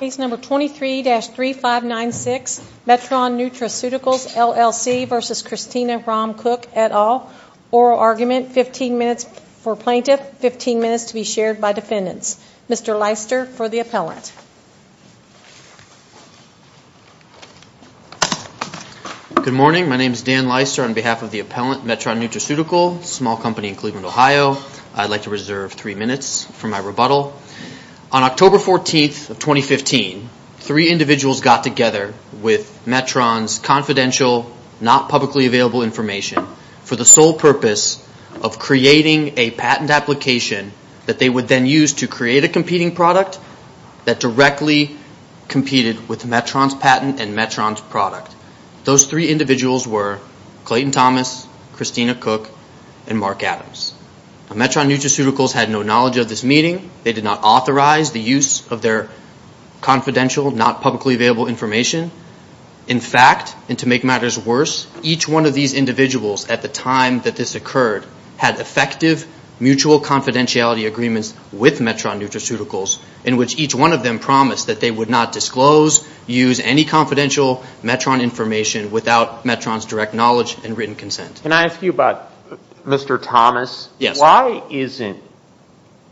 Case number 23-3596, Metron Nutraceuticals, LLC versus Christina Rahm Cook et al. Oral argument, 15 minutes for plaintiff, 15 minutes to be shared by defendants. Mr. Leister for the appellant. Good morning. My name is Dan Leister on behalf of the appellant, Metron Nutraceuticals, a small company in Cleveland, Ohio. I'd like to reserve three minutes for my rebuttal. On October 14th of 2015, three individuals got together with Metron's confidential, not publicly available information for the sole purpose of creating a patent application that they would then use to create a competing product that directly competed with Metron's patent and Metron's product. Those three individuals were Clayton Thomas, Christina Cook, and Mark Adams. Now, Metron Nutraceuticals had no knowledge of this meeting. They did not authorize the use of their confidential, not publicly available information. In fact, and to make matters worse, each one of these individuals at the time that this occurred had effective mutual confidentiality agreements with Metron Nutraceuticals in which each one of them promised that they would not disclose, use any confidential Metron information without Metron's direct knowledge and written consent. Can I ask you about Mr. Thomas? Yes. Why isn't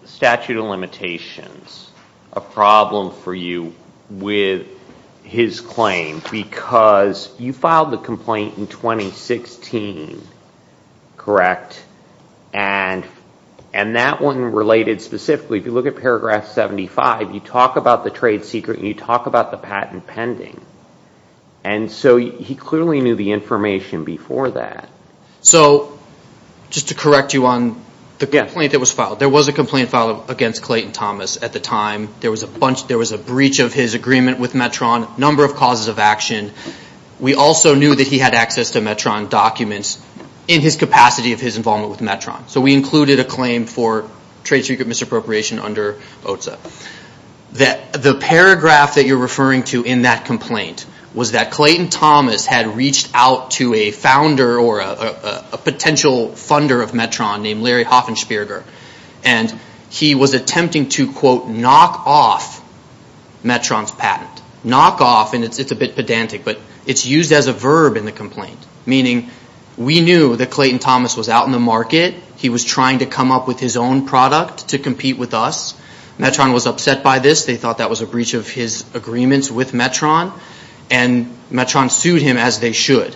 statute of limitations a problem for you with his claim? Because you filed the complaint in 2016, correct? And that one related specifically, if you look at paragraph 75, you talk about the trade secret and you talk about the patent pending. And so he clearly knew the information before that. So just to correct you on the complaint that was filed, there was a complaint filed against Clayton Thomas at the time. There was a breach of his agreement with Metron, number of causes of action. We also knew that he had access to Metron documents in his capacity of his involvement with Metron. So we included a claim for trade secret misappropriation under OTSA. The paragraph that you're referring to in that complaint was that Clayton Thomas had reached out to a founder or a potential funder of Metron named Larry Hoffensperger. And he was attempting to, quote, knock off Metron's patent. Knock off, and it's a bit pedantic, but it's used as a verb in the complaint, meaning we knew that Clayton Thomas was out in the market. He was trying to come up with his own product to compete with us. Metron was upset by this. They thought that was a breach of his agreements with Metron. And Metron sued him, as they should.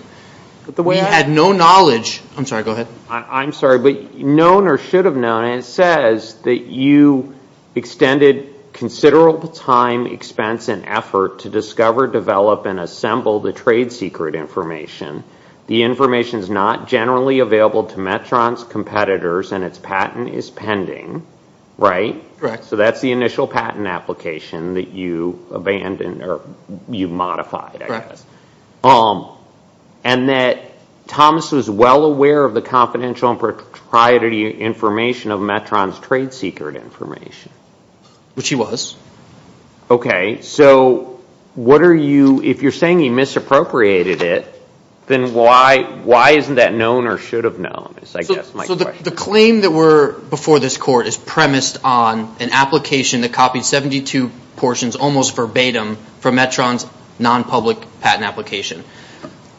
We had no knowledge. I'm sorry, go ahead. I'm sorry, but known or should have known, it says that you extended considerable time, expense, and effort to discover, develop, and assemble the trade secret information. The information is not generally available to Metron's competitors, and its patent is pending, right? Correct. So that's the initial patent application that you abandoned, or you modified, I guess. And that Thomas was well aware of the confidential and propriety information of Metron's trade secret information. Which he was. Okay, so what are you, if you're saying he misappropriated it, then why isn't that known or should have known, is I guess my question. So the claim that were before this court is premised on an application that copied 72 portions, almost verbatim, from Metron's non-public patent application.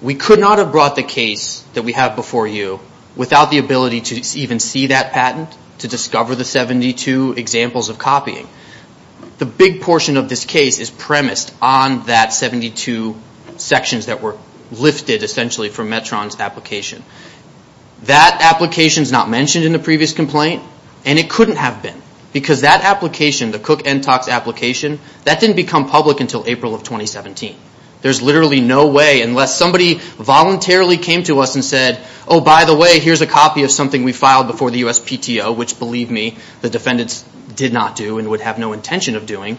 We could not have brought the case that we have before you without the ability to even see that patent, to discover the 72 examples of copying. The big portion of this case is premised on that 72 sections that were lifted, essentially, from Metron's application. That application is not mentioned in the previous complaint, and it couldn't have been. Because that application, the Cook-Entox application, that didn't become public until April of 2017. There's literally no way, unless somebody voluntarily came to us and said, oh, by the way, here's a copy of something we filed before the USPTO, which believe me, the defendants did not do and would have no intention of doing,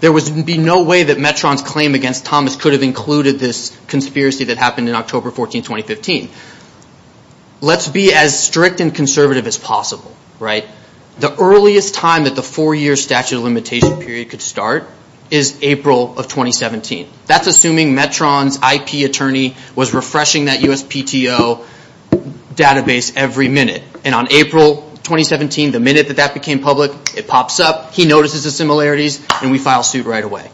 there would be no way that Metron's claim against Thomas could have included this conspiracy that happened in October 14, 2015. Let's be as strict and conservative as possible, right? The earliest time that the four-year statute of limitation period could start is April of 2017. That's assuming Metron's IP attorney was refreshing that USPTO database every minute. And on April 2017, the minute that that became public, it pops up, he notices the similarities, and we file suit right away.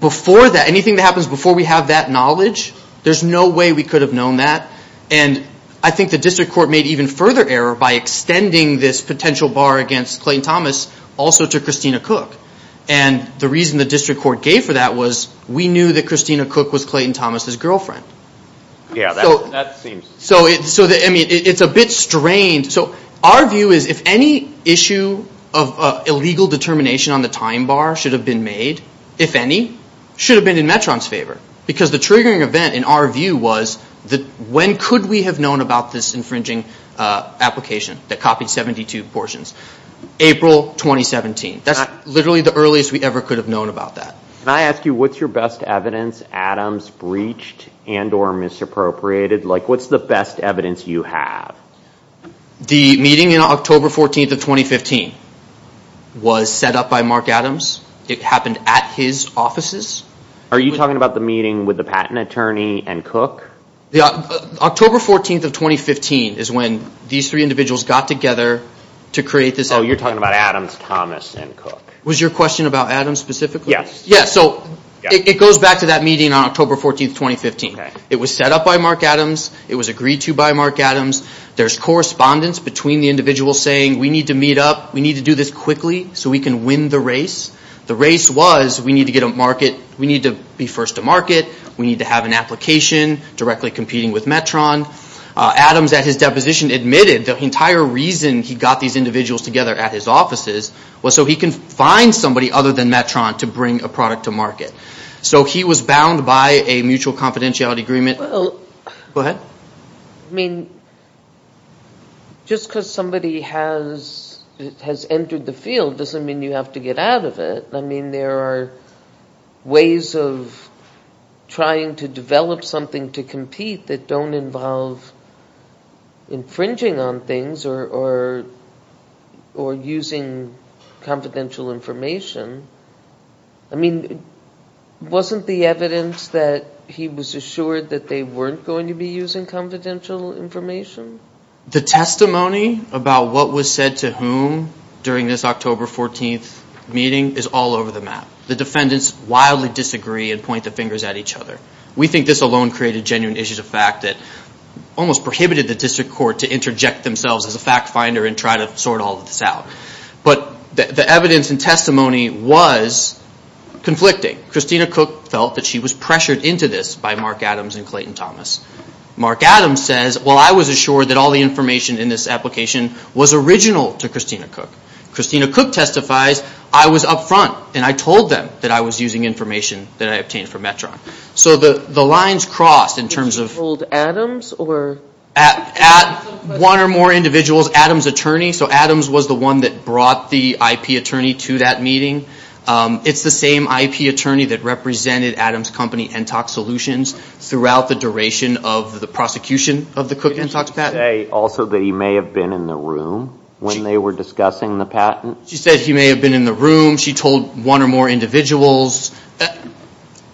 Before that, anything that happens before we have that knowledge, there's no way we could have known that. And I think the district court made even further error by extending this potential bar against Clayton Thomas also to Christina Cook. And the reason the district court gave for that was we knew that Christina Cook was Clayton Thomas' girlfriend. So, I mean, it's a bit strained. So, our view is if any issue of illegal determination on the time bar should have been made, if any, should have been in Metron's favor. Because the triggering event in our view was that when could we have known about this infringing application that copied 72 portions? April 2017. That's literally the earliest we ever could have known about that. Can I ask you what's your best evidence Adams breached and or misappropriated? Like, what's the best evidence you have? The meeting in October 14th of 2015 was set up by Mark Adams. It happened at his offices. Are you talking about the meeting with the patent attorney and Cook? Yeah. October 14th of 2015 is when these three individuals got together to create this. Oh, you're talking about Adams, Thomas, and Cook. Was your question about Adams specifically? Yes. Yeah. So, it goes back to that meeting on October 14th, 2015. Okay. It was set up by Mark Adams. It was agreed to by Mark Adams. There's correspondence between the individuals saying we need to meet up. We need to do this quickly so we can win the race. The race was we need to get a market, we need to be first to market. We need to have an application directly competing with Metron. Adams at his deposition admitted the entire reason he got these individuals together at his offices was so he can find somebody other than Metron to bring a product to market. So, he was bound by a mutual confidentiality agreement. Go ahead. I mean, just because somebody has entered the field doesn't mean you have to get out of it. I mean, there are ways of trying to develop something to compete that don't involve infringing on things or using confidential information. I mean, wasn't the evidence that he was assured that they weren't going to be using confidential information? The testimony about what was said to whom during this October 14th meeting is all over the map. The defendants wildly disagree and point the fingers at each other. We think this alone created genuine issues of fact that almost prohibited the district court to interject themselves as a fact finder and try to sort all of this out. But the evidence and testimony was conflicting. Christina Cook felt that she was pressured into this by Mark Adams and Clayton Thomas. Mark Adams says, well, I was assured that all the information in this application was original to Christina Cook. Christina Cook testifies, I was up front and I told them that I was using information that I obtained from Metron. So, the lines crossed in terms of... Did you hold Adams or... At one or more individuals, Adams' attorney. So, Adams was the one that brought the IP attorney to that meeting. It's the same IP attorney that represented Adams' company, and talked solutions throughout the duration of the prosecution of the Cook and Cox patent. Did she say also that he may have been in the room when they were discussing the patent? She said he may have been in the room. She told one or more individuals.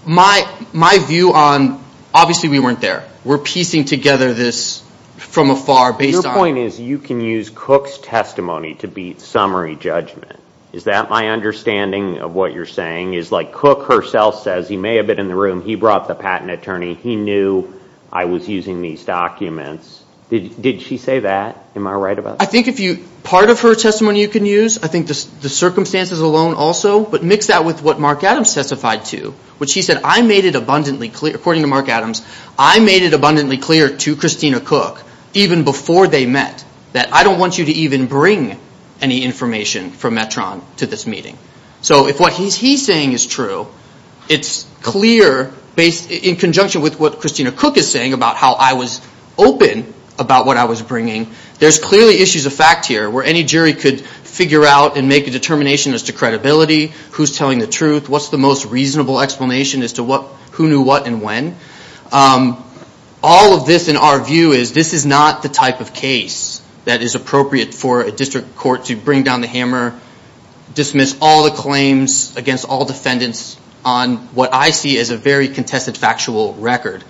My view on, obviously we weren't there. We're piecing together this from afar based on... Your point is you can use Cook's testimony to beat summary judgment. Is that my understanding of what you're saying? Is like Cook herself says, he may have been in the room. He brought the patent attorney. He knew I was using these documents. Did she say that? Am I right about that? I think if you... Part of her testimony you can use. I think the circumstances alone also, but mix that with what Mark Adams testified to. Which he said, I made it abundantly clear, according to Mark Adams, I made it abundantly clear to Christina Cook even before they met that I don't want you to even bring any information from Metron to this meeting. So if what he's saying is true, it's clear in conjunction with what Christina Cook is saying about how I was open about what I was bringing. There's clearly issues of fact here where any jury could figure out and make a determination as to credibility, who's telling the truth, what's the most reasonable explanation as to who knew what and when. All of this in our view is this is not the type of case that is appropriate for a district court to bring down the hammer, dismiss all the claims against all defendants on what I see as a very contested factual record.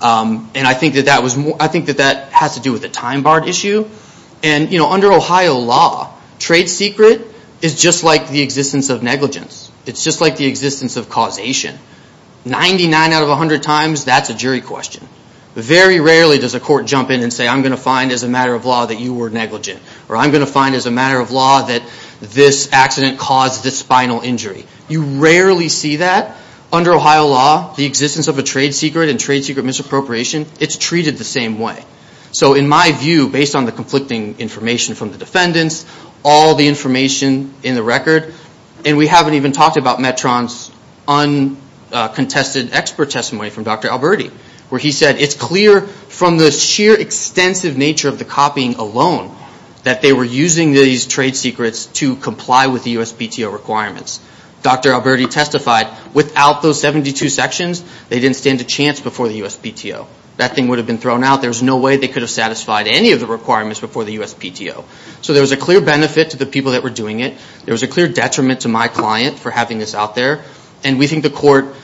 And I think that that has to do with the time bar issue. And under Ohio law, trade secret is just like the existence of negligence. It's just like the existence of causation. Ninety-nine out of a hundred times, that's a jury question. Very rarely does a court jump in and say, I'm going to find as a matter of law that you were negligent, or I'm going to find as a matter of law that this accident caused this spinal injury. You rarely see that under Ohio law, the existence of a trade secret and trade secret misappropriation, it's treated the same way. So in my view, based on the conflicting information from the defendants, all the information in the record, and we haven't even talked about Metron's uncontested expert testimony from Dr. Alberti, where he said it's clear from the sheer extensive nature of the copying alone that they were using these trade secrets to comply with the USPTO requirements. Dr. Alberti testified, without those 72 sections, they didn't stand a chance before the USPTO. That thing would have been thrown out. There's no way they could have satisfied any of the requirements before the USPTO. So there was a clear benefit to the people that were doing it. There was a clear detriment to my client for having this out there. And we think the court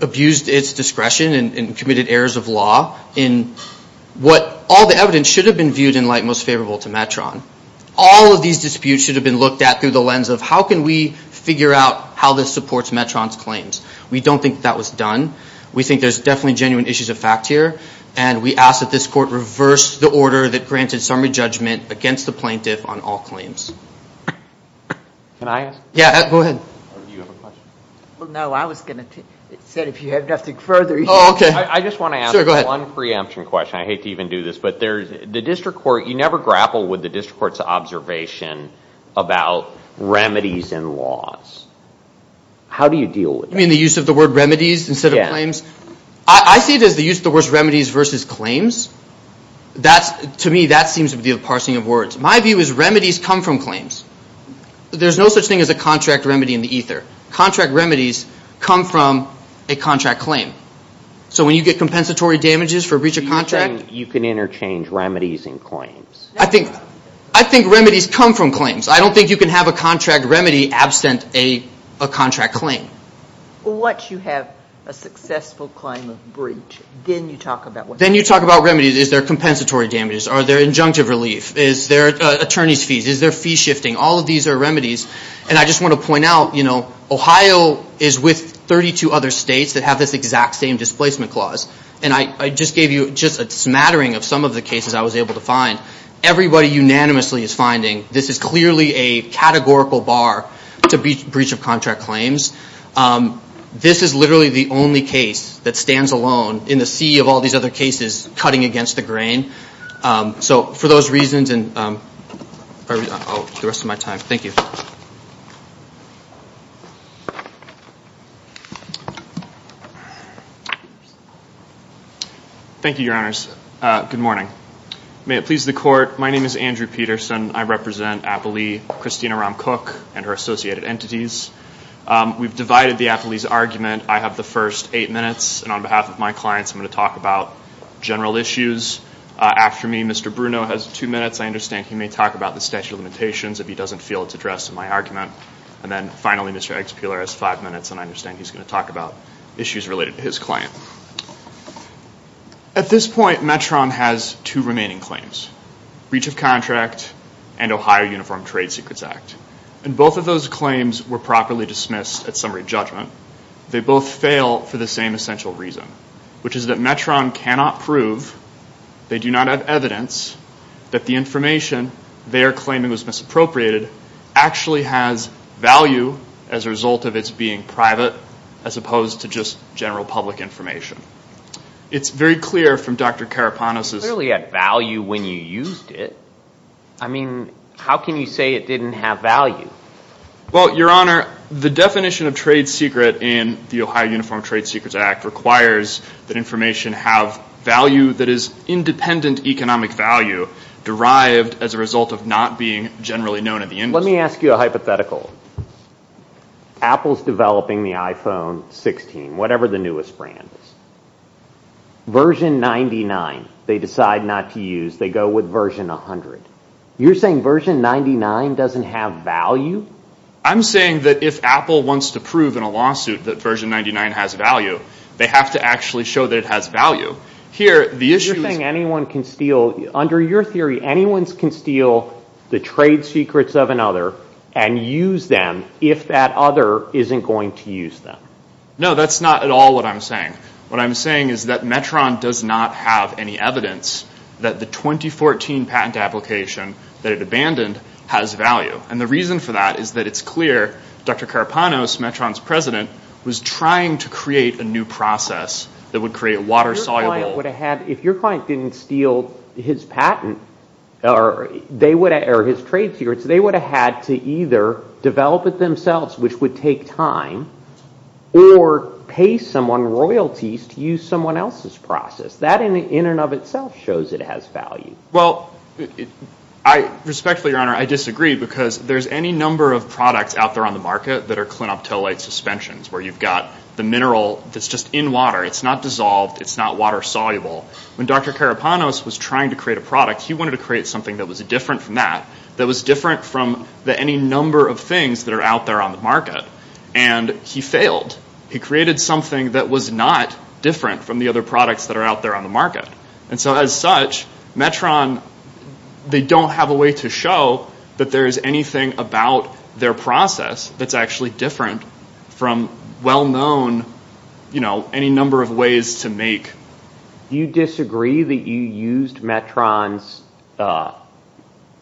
abused its discretion and committed errors of law in what all the evidence should have been viewed in light most favorable to Metron. All of these disputes should have been looked at through the lens of how can we figure out how this supports Metron's claims. We don't think that was done. We think there's definitely genuine issues of fact here. And we ask that this court reverse the order that granted summary judgment against the plaintiff on all claims. Can I ask? Yeah, go ahead. Or do you have a question? Well, no, I was going to say if you have nothing further. Oh, okay. I just want to ask one preemption question. I hate to even do this, but there's, the district court, you never grapple with the district court's observation about remedies and laws. How do you deal with that? You mean the use of the word remedies instead of claims? Yeah. I see it as the use of the word remedies versus claims. That's, to me, that seems to be the parsing of words. My view is remedies come from claims. There's no such thing as a contract remedy in the ether. Contract remedies come from a contract claim. So when you get compensatory damages for breach of contract... You can interchange remedies and claims. I think remedies come from claims. I don't think you can have a contract remedy absent a contract claim. Well, once you have a successful claim of breach, then you talk about what... Then you talk about remedies. Is there compensatory damages? Are there injunctive relief? Is there attorney's fees? Is there fee shifting? All of these are remedies. And I just want to point out, you know, Ohio is with 32 other states that have this exact same displacement clause. And I just gave you just a smattering of some of the cases I was able to find. Everybody unanimously is finding this is clearly a categorical bar to breach of contract claims. This is literally the only case that stands alone in the sea of all these other cases cutting against the grain. So for those reasons and... Oh, the rest of my time. Thank you. Thank you, your honors. Good morning. May it please the court. My name is Andrew Peterson. I represent Applee, Christina Ramcook, and her associated entities. We've divided the Applee's argument. I have the first eight minutes. And on behalf of my clients, I'm going to talk about general issues. After me, Mr. Bruno has two minutes. I understand he may talk about the statute of limitations if he doesn't feel it's addressed in my argument. And then finally, Mr. Expeller has five minutes, and I understand he's going to talk about issues related to his client. At this point, Metron has two remaining claims, breach of contract and Ohio Uniform Trade Secrets Act. And both of those claims were properly dismissed at summary judgment. They both fail for the same essential reason, which is that Metron cannot prove, they do not have evidence, that the information they are claiming was misappropriated actually has value as a result of its being private as opposed to just general public information. It's very clear from Dr. Karapanos's- It clearly had value when you used it. I mean, how can you say it didn't have value? Well, your honor, the definition of trade secret and the Ohio Uniform Trade Secrets Act requires that information have value that is independent economic value derived as a result of not being generally known in the industry. Let me ask you a hypothetical. Apple's developing the iPhone 16, whatever the newest brand is. Version 99 they decide not to use. They go with version 100. You're saying version 99 doesn't have value? I'm saying that if Apple wants to prove in a lawsuit that version 99 has value, they have to actually show that it has value. Here, the issue is- You're saying anyone can steal, under your theory, anyone can steal the trade secrets of another and use them if that other isn't going to use them. No, that's not at all what I'm saying. What I'm saying is that Metron does not have any evidence that the 2014 patent application that it abandoned has value. The reason for that is that it's clear Dr. Carpano, Metron's president, was trying to create a new process that would create water-soluble- If your client didn't steal his patent or his trade secrets, they would have had to either develop it themselves, which would take time, or pay someone royalties to use someone else's process. That in and of itself shows it has value. Respectfully, your honor, I disagree because there's any number of products out there on the market that are clinoptilate suspensions, where you've got the mineral that's just in water. It's not dissolved. It's not water-soluble. When Dr. Carpano was trying to create a product, he wanted to create something that was different from that, that was different from any number of things that are out there on the market, and he failed. He created something that was not different from the other products that are out there on the market. As such, Metron, they don't have a way to show that there's anything about their process that's actually different from well-known, you know, any number of ways to make- Do you disagree that you used Metron's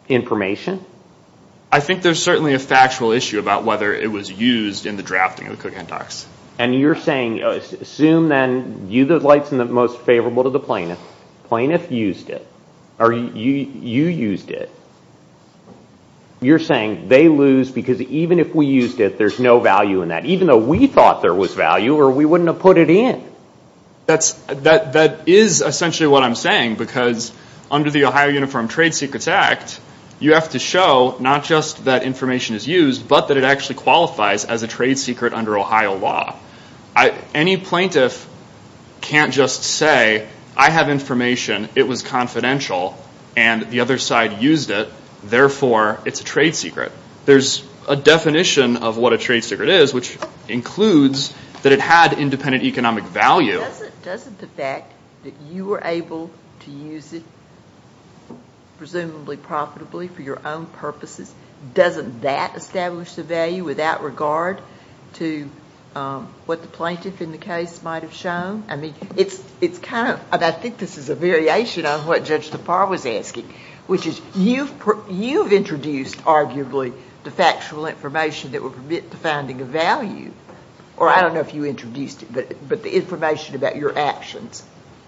information? I think there's certainly a factual issue about whether it was used in the drafting of the Cook Endox. And you're saying, assume then, you, the light's in the most favorable to the plaintiff, plaintiff used it, or you used it. You're saying they lose because even if we used it, there's no value in that, even though we thought there was value, or we wouldn't have put it in. That is essentially what I'm saying, because under the Ohio Uniform Trade Secrets Act, you have to show not just that information is used, but that it actually qualifies as a trade secret under Ohio law. Any plaintiff can't just say, I have information, it was confidential, and the other side used it, therefore it's a trade secret. There's a definition of what a trade secret is, which includes that it had independent economic value. Doesn't the fact that you were able to use it, presumably profitably for your own purposes, doesn't that establish the value without regard to what the plaintiff in the case might have shown? I mean, it's kind of, and I think this is a variation on what Judge DePauw was asking, which is you've introduced arguably the factual information that would permit the finding of value, or I don't know if you introduced it, but the information about your actions.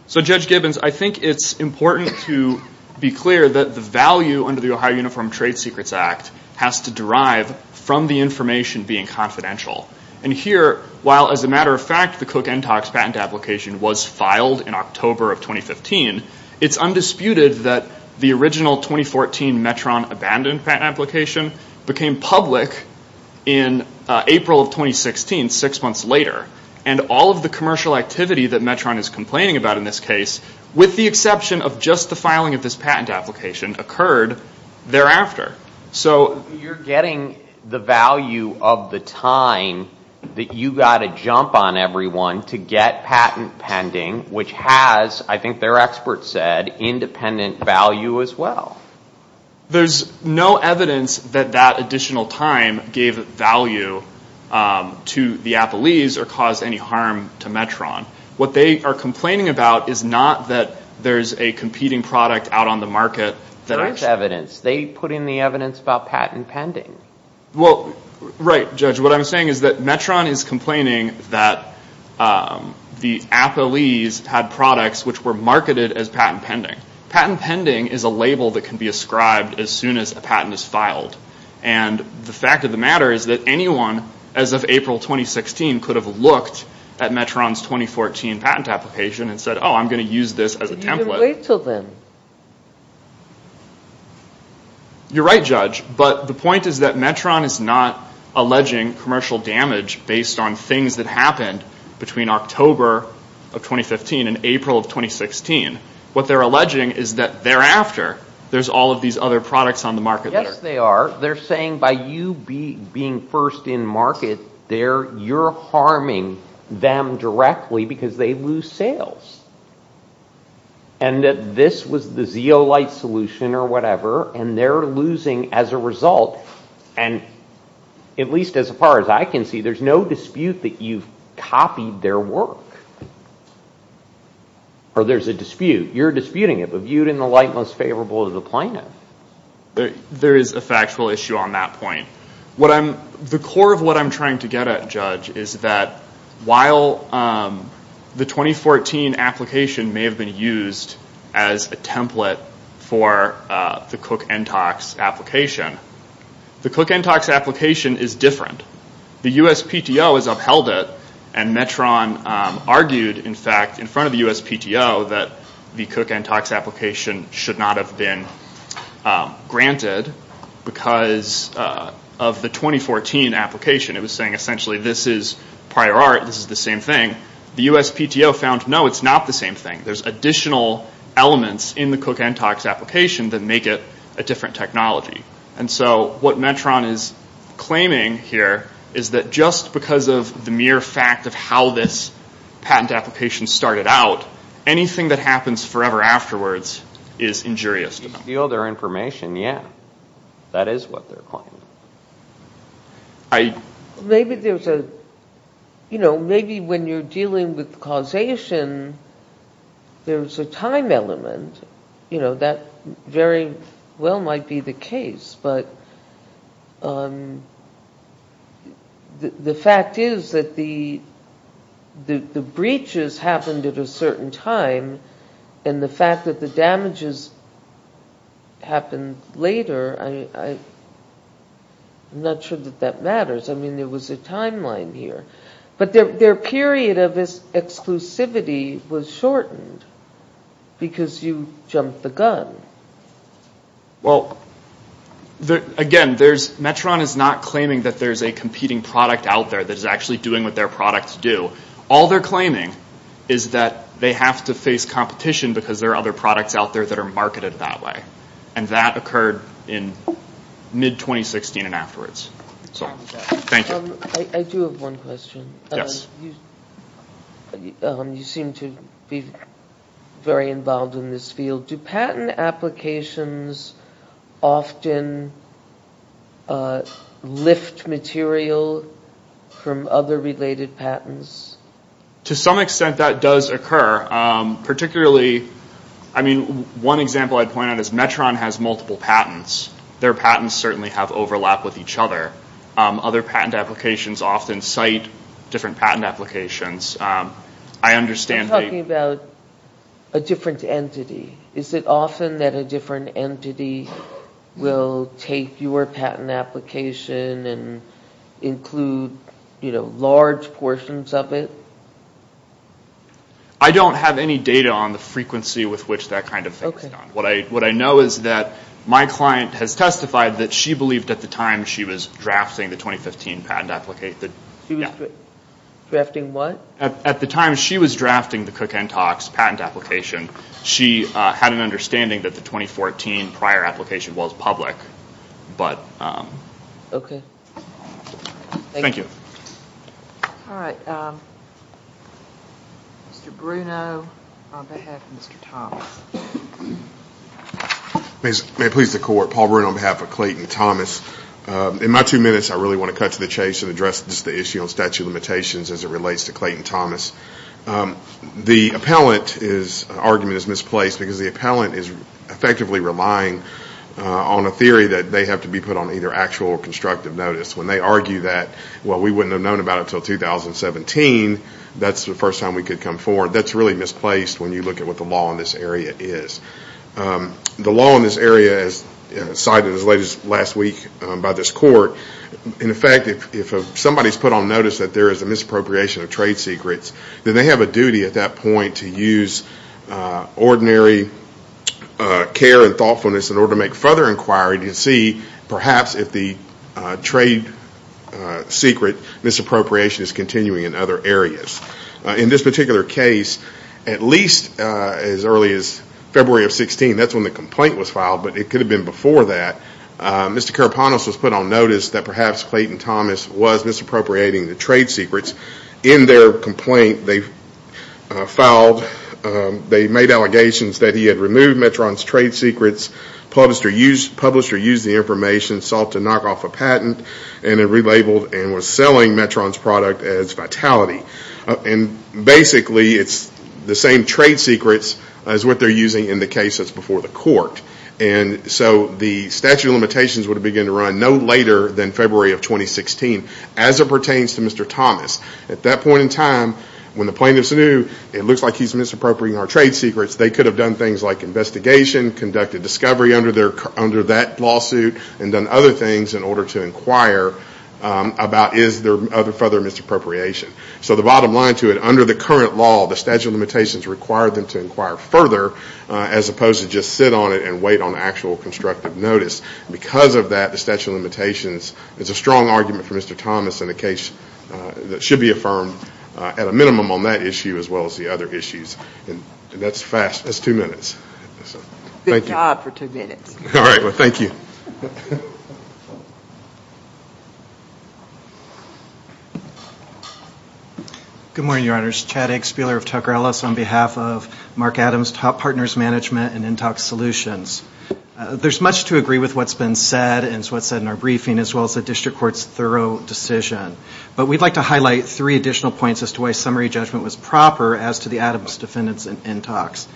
So Judge Gibbons, I think it's important to be clear that the value under the Ohio Uniform Trade Secrets Act has to derive from the information being confidential. And here, while as a matter of fact, the Cook-Entox patent application was filed in October of 2015, it's undisputed that the original 2014 Metron abandoned patent application became public in April of 2016, six months later. And all of the commercial activity that Metron is complaining about in this case, with the exception of just the filing of this patent application, occurred thereafter. You're getting the value of the time that you've got to jump on everyone to get patent pending, which has, I think their experts said, independent value as well. There's no evidence that that additional time gave value to the Applees or caused any harm to Metron. What they are complaining about is not that there's a competing product out on the market. There is evidence. They put in the evidence about patent pending. Well, right, Judge. What I'm saying is that Metron is complaining that the Applees had products which were marketed as patent pending. Patent pending is a label that can be ascribed as soon as a patent is filed. And the fact of the matter is that anyone, as of April 2016, could have looked at Metron's 2014 patent application and said, oh, I'm going to use this as a template. You're right, Judge. But the point is that Metron is not alleging commercial damage based on things that happened between October of 2015 and April of 2016. What they're alleging is that thereafter, there's all of these other products on the market. Yes, they are. They're saying by you being first in market, you're harming them directly because they lose sales. And that this was the zeolite solution or whatever, and they're losing as a result. And at least as far as I can see, there's no dispute that you've copied their work. Or there's a dispute. You're disputing it, but viewed in the light most favorable to the plaintiff. There is a factual issue on that point. What I'm... The core of what I'm trying to get at, Judge, while the 2014 application may have been used as a template for the Cook-NTOX application, the Cook-NTOX application is different. The USPTO has upheld it, and Metron argued, in fact, in front of the USPTO that the Cook-NTOX application should not have been granted because of the 2014 application. It was saying essentially that this is prior art, this is the same thing. The USPTO found, no, it's not the same thing. There's additional elements in the Cook-NTOX application that make it a different technology. And so what Metron is claiming here is that just because of the mere fact of how this patent application started out, anything that happens forever afterwards is injurious to them. You steal their information, yeah. That is what they're claiming. Maybe there's a, you know, maybe when you're dealing with causation, there's a time element. You know, that very well might be the case, but the fact is that the breaches happened at a certain time, and the fact that the damages happened later, I'm not sure that that matters. I mean, there was a timeline here. But their period of exclusivity was shortened because you jumped the gun. Well, again, there's, Metron is not claiming that there's a competing product out there that is actually doing what their products do. All they're claiming is that they have to face competition because there are other products out there that are marketed that way. And that occurred in mid-2016 and afterwards. So, thank you. I do have one question. Yes. You seem to be very involved in this field. Do patent applications often lift material from other related patents? To some extent, that does occur. Particularly, I mean, one example I'd point out is Metron has multiple patents. Their patents certainly have overlap with each other. Other patent applications often cite different patent applications. I understand that... You're talking about a different entity. Is it often that a different entity will take your patent application and include large portions of it? I don't have any data on the frequency with which that kind of thing is done. What I know is that my client has testified that she believed at the time she was drafting the 2015 patent application... She was drafting what? At the time she was drafting the Cook-Hentox patent application, she had an understanding that the 2014 prior application was public, but... Okay. Thank you. All right. Mr. Bruno, on behalf of Mr. Thomas. May it please the court. Paul Bruno on behalf of Clayton Thomas. In my two minutes, I really want to cut to the chase and address the issue on statute of limitations as it relates to Clayton Thomas. The appellant's argument is misplaced because the appellant is effectively relying on a theory that they have to be put on either actual or constructive notice. When they argue that, well, we wouldn't have known about it until 2017, that's the first time we could come forward. That's really misplaced when you look at what the law in this area is. The law in this area is cited as late as last week by this court. In effect, if somebody's put on notice that there is a misappropriation of trade secrets, then they have a duty at that point to use ordinary care and thoughtfulness in order to make further inquiry to see perhaps if the trade secret misappropriation is continuing in other areas. In this particular case, at least as early as February of 2016, that's when the complaint was filed, but it could have been before that, Mr. Karapanos was put on notice that perhaps Clayton Thomas was misappropriating the trade secrets. In their complaint, they filed, they made allegations that he had removed Metron's trade secrets, published or used the information, sought to knock off a patent, and relabeled and was selling Metron's product as vitality. Basically, it's the same trade secrets as what they're using in the case that's before the court. So the statute of limitations would have begun to run no later than February of 2016 as it pertains to Mr. Thomas. At that point in time, when the plaintiffs knew it looks like he's misappropriating our trade secrets, they could have done things like investigation, conducted discovery under that lawsuit, and done other things in order to inquire about is there further misappropriation. So the bottom line to it, under the current law, the statute of limitations required them to inquire further as opposed to just sit on it and wait on actual constructive notice. Because of that, the statute of limitations is a strong argument for Mr. Thomas in a case that should be affirmed at a minimum on that issue as well as the other issues. And that's fast. That's two minutes. Thank you. Good job for two minutes. All right. Well, thank you. Good morning, Your Honors. Chad Eggspieler of Tucker Ellis on behalf of Mark Adams, Top Partners Management and Intox Solutions. There's much to agree with what's been said and what's been said in our briefing as well as the district court's thorough decision. But we'd like to highlight three additional points as to why summary judgment was proper as to the Adams defendants and Intox.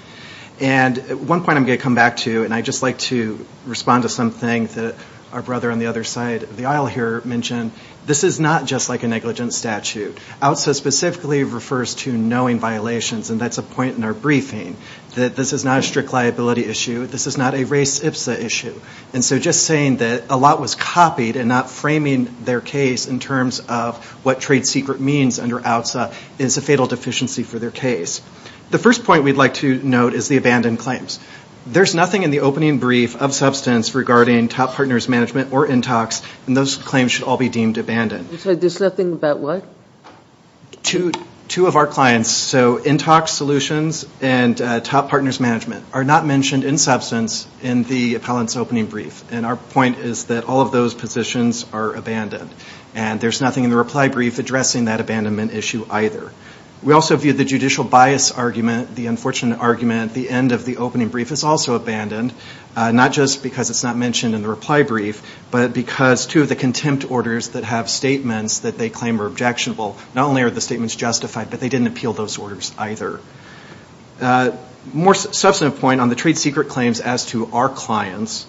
And one point I'm going to come back to, and I'd just like to respond to something that our brother on the other side of the aisle here mentioned. This is not just like a negligent statute. OUTSA specifically refers to knowing violations. And that's a point in our briefing that this is not a strict liability issue. This is not a race ipsa issue. And so just saying that a lot was copied and not framing their case in terms of what trade secret means under OUTSA is a fatal deficiency for their case. The first point we'd like to note is the abandoned claims. There's nothing in the opening brief of substance regarding Top Partners Management or Intox and those claims should all be deemed abandoned. So there's nothing about what? Two of our clients, so Intox Solutions and Top Partners Management are not mentioned in substance in the appellant's opening brief. And our point is that all of those positions are abandoned. And there's nothing in the reply brief addressing that abandonment issue either. We also view the judicial bias argument, the unfortunate argument, the end of the opening brief is also abandoned, not just because it's not mentioned in the reply brief, but because two of the contempt orders that have statements that they claim are objectionable not only are the statements justified but they didn't appeal those orders either. More substantive point on the trade secret claims as to our clients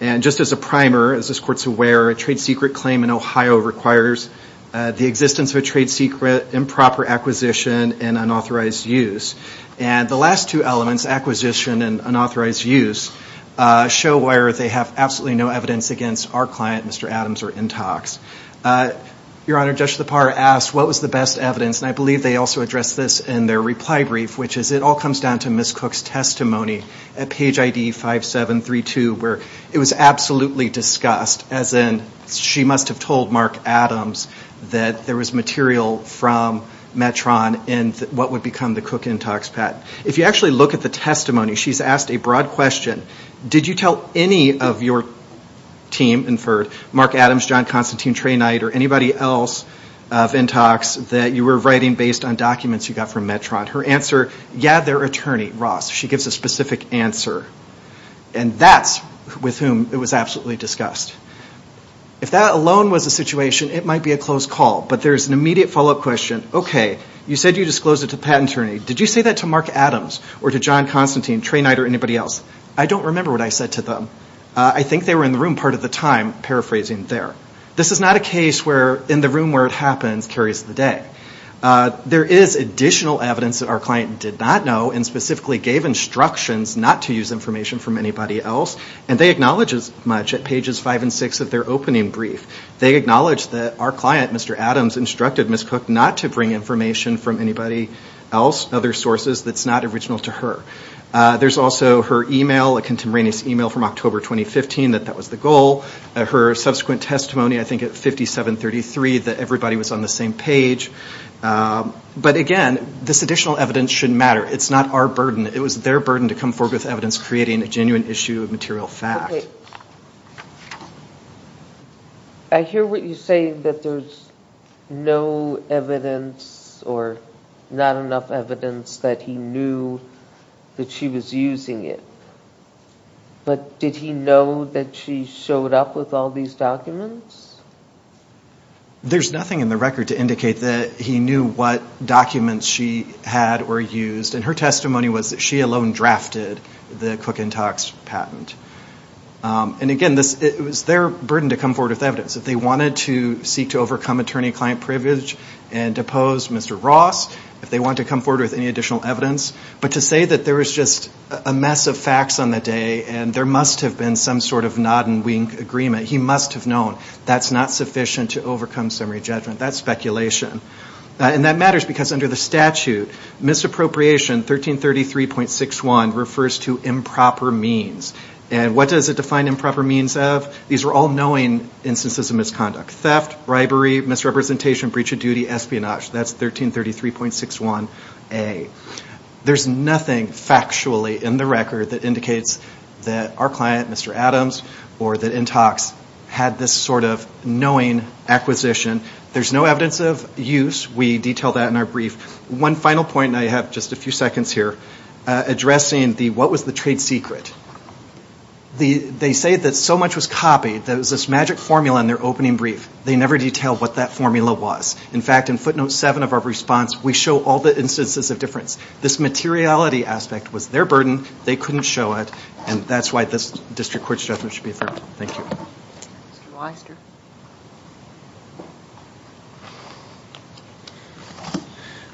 and just as a primer as this court's aware a trade secret claim in Ohio requires the existence of a trade secret improper acquisition and unauthorized use. And the last two elements acquisition and unauthorized use show where they have absolutely no evidence against our client Mr. Adams or Intox. Your Honor, Judge Lepar asked what was the best evidence and I believe they also addressed this in their reply brief which is it all comes down to Ms. Cook's testimony at page ID 5732 where it was absolutely discussed as in she must have told Mark Adams that there was material from Metron and what would become the Cook Intox patent. If you actually look at the testimony she's asked a broad question did you tell any of your team and for Mark Adams, John Constantine, Trey Knight or anybody else of Intox that you were writing based on documents you got from Metron. Her answer yeah their attorney, she gives a specific answer and that's with whom it was absolutely discussed. If that alone was the situation it might be a close call but there's an immediate follow-up question okay, you said you disclosed it to the patent attorney did you say that to Mark Adams or to John Constantine, Trey Knight or anybody else? I don't remember what I said to them. I think they were in the room part of the time paraphrasing there. This is not a case where in the room where it happens carries the day. There is additional evidence that our client did not know and specifically gave instructions not to use information from anybody else and they acknowledge as much at pages 5 and 6 of their opening brief they acknowledge that our client Mr. Adams instructed Ms. Cook not to bring information from anybody else other sources that's not original to her. There's also her email a contemporaneous email from October 2015 that that was the goal. Her subsequent testimony I think at 5733 that everybody was on the same page but again this additional evidence shouldn't matter. It's not our burden. It was their burden to come forward with evidence creating a genuine issue of material fact. I hear what you say that there's no evidence or not enough evidence that he knew that she was using it but did he know that she showed up with all these documents? There's nothing in the record to indicate that he knew what documents she had or used and her testimony was that she alone drafted the Cook and Tocks patent. And again it was their burden to come forward with evidence. If they wanted to seek to overcome attorney-client privilege and depose Mr. Ross if they wanted to come forward with any additional evidence but to say that there was just a mess of facts on the day and there must have been some sort of nod and wink agreement he must have known that's not sufficient to overcome summary judgment. That's speculation. And that matters because under the statute misappropriation 1333.61 refers to improper means. And what does it define improper means of? These were all knowing instances of misconduct. Theft, misrepresentation, breach of duty, espionage. That's 1333.61a. There's nothing factually in the record that indicates that our client Mr. Adams or that Intox had this sort of knowing acquisition. There's no evidence of use. We detail that in our brief. One final point and I have just a few seconds here addressing the what was the trade secret. They say that so much was copied. There was this magic formula in their opening brief. They never detailed what that formula was. In fact, in footnote 7 of our response we show all the instances of difference. This materiality aspect was their burden. They couldn't show it. And that's why this district court judgment should be affirmed. Thank you. Mr.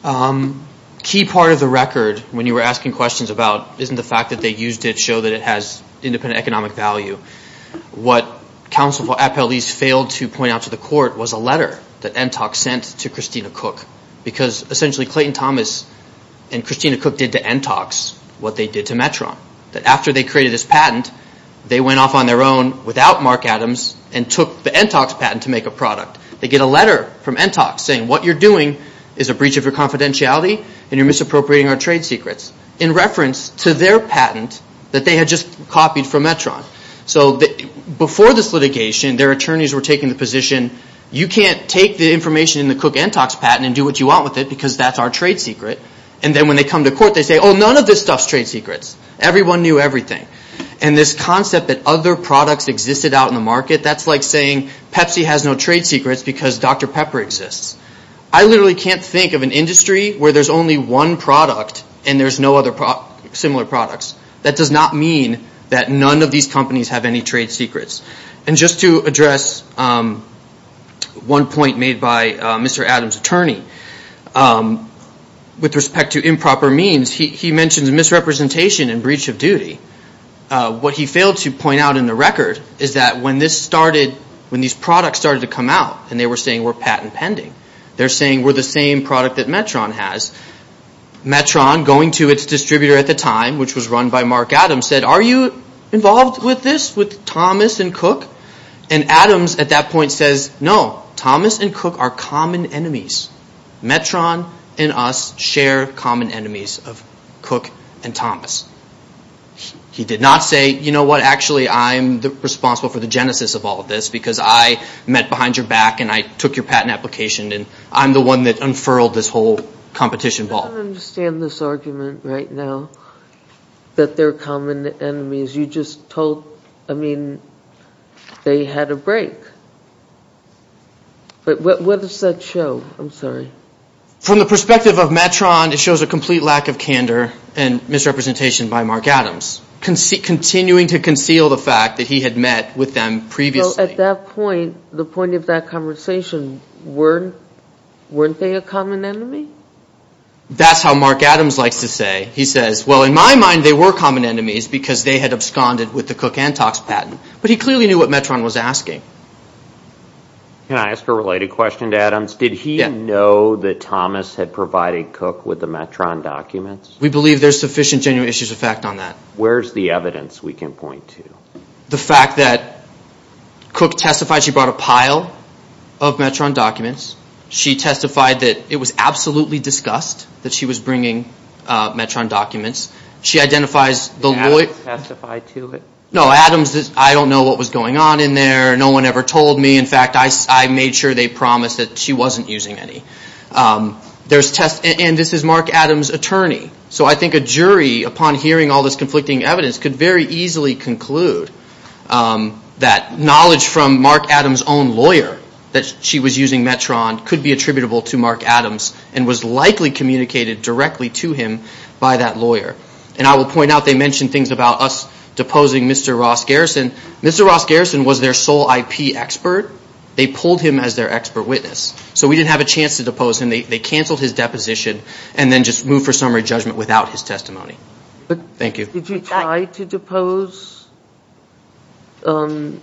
Weister. Key part of the record when you were asking questions about isn't the fact that they used it to show that it has independent economic value. What counsel failed to point out to the court was a letter that Intox sent to Christina Cook. Because essentially Clayton Thomas and Christina Cook did to Intox what they did to Metron. After they created this patent they went off on their own without Mark Adams and took the Intox patent to make a product. They get a letter from Intox saying what you're doing is a breach of your confidentiality and you're misappropriating our trade secrets. In reference to their patent that they had just copied from Metron. before this litigation their attorneys were taking the position you can't take the information in the Cook Intox patent and do what you want with it because that's our trade secret. Then when they come to court they say none of this stuff is trade secrets. Everyone knew everything. This concept that other products existed out in the market that's like saying Pepsi has no trade secrets because Dr. Pepper exists. I literally can't think of an industry where there's only one product and there's no other similar products. That does not mean that none of these companies have any trade secrets. Just to address one point made by Mr. Adams' attorney with respect to improper means he mentions misrepresentation and breach of duty. What he failed to point out in the record is that when this started when these products started to come out and they were saying we're patent pending they're saying we're the same product that Metron has. Metron going to its distributor at the time which was run by Mark Adams said are you involved with this with Thomas and Cook? Adams at that point says no. Thomas and Cook are common enemies. Metron and us share common enemies of Cook and Thomas. He did not say you know what actually I'm responsible for the genesis of all of this because I met behind your back and I took your patent application and I'm the one that unfurled this whole competition ball. I don't understand this argument right now that they're common enemies. You just told I mean they had a break. What does that show? I'm sorry. From the perspective of Metron it shows a complete lack of candor and misrepresentation by Mark Adams. Continuing to conceal the fact that he had met with them previously. At that point the point of that conversation weren't they a common enemy? That's how Mark Adams likes to say. He says well in my mind they were common enemies because they had absconded with the Cook Antox patent. But he clearly knew what Metron was asking. Can I ask a related question to Adams? Did he know that Thomas had provided Cook with the Metron documents? We believe there's sufficient genuine issues of fact on that. Where's the evidence we can point to? The fact that Cook testified she brought a pile of Metron documents. She testified that it was absolutely discussed that she was bringing Metron documents. She identifies the lawyer Did Adams testify to it? No, Adams I don't know what was going on in there. No one ever told me. In fact I made sure they promised that she wasn't using any. There's test and this is Mark Adams' So I think a jury upon hearing all this conflicting evidence could very easily conclude that knowledge from Mark Adams' own lawyer that she was using Metron could be attributable to Mark Adams and was likely communicated directly to him by that lawyer. And I will point out they mention things about us deposing Mr. Ross Garrison. Mr. Ross Garrison was their sole IP expert. They pulled him as their expert witness. So we didn't have a chance to depose him. They canceled his deposition and then just moved for summary judgment without his testimony. Thank you. Did you try to depose Adams'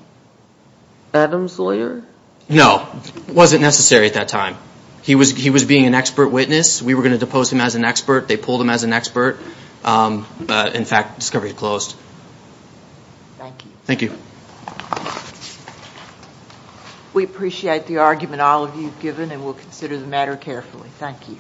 lawyer? No. It wasn't necessary at that time. He was being an expert witness. We were going to depose him as an expert. They pulled him as an expert. In fact discovery closed. Thank you. Thank you. We appreciate the argument all of you have given and will consider the matter carefully. Thank you.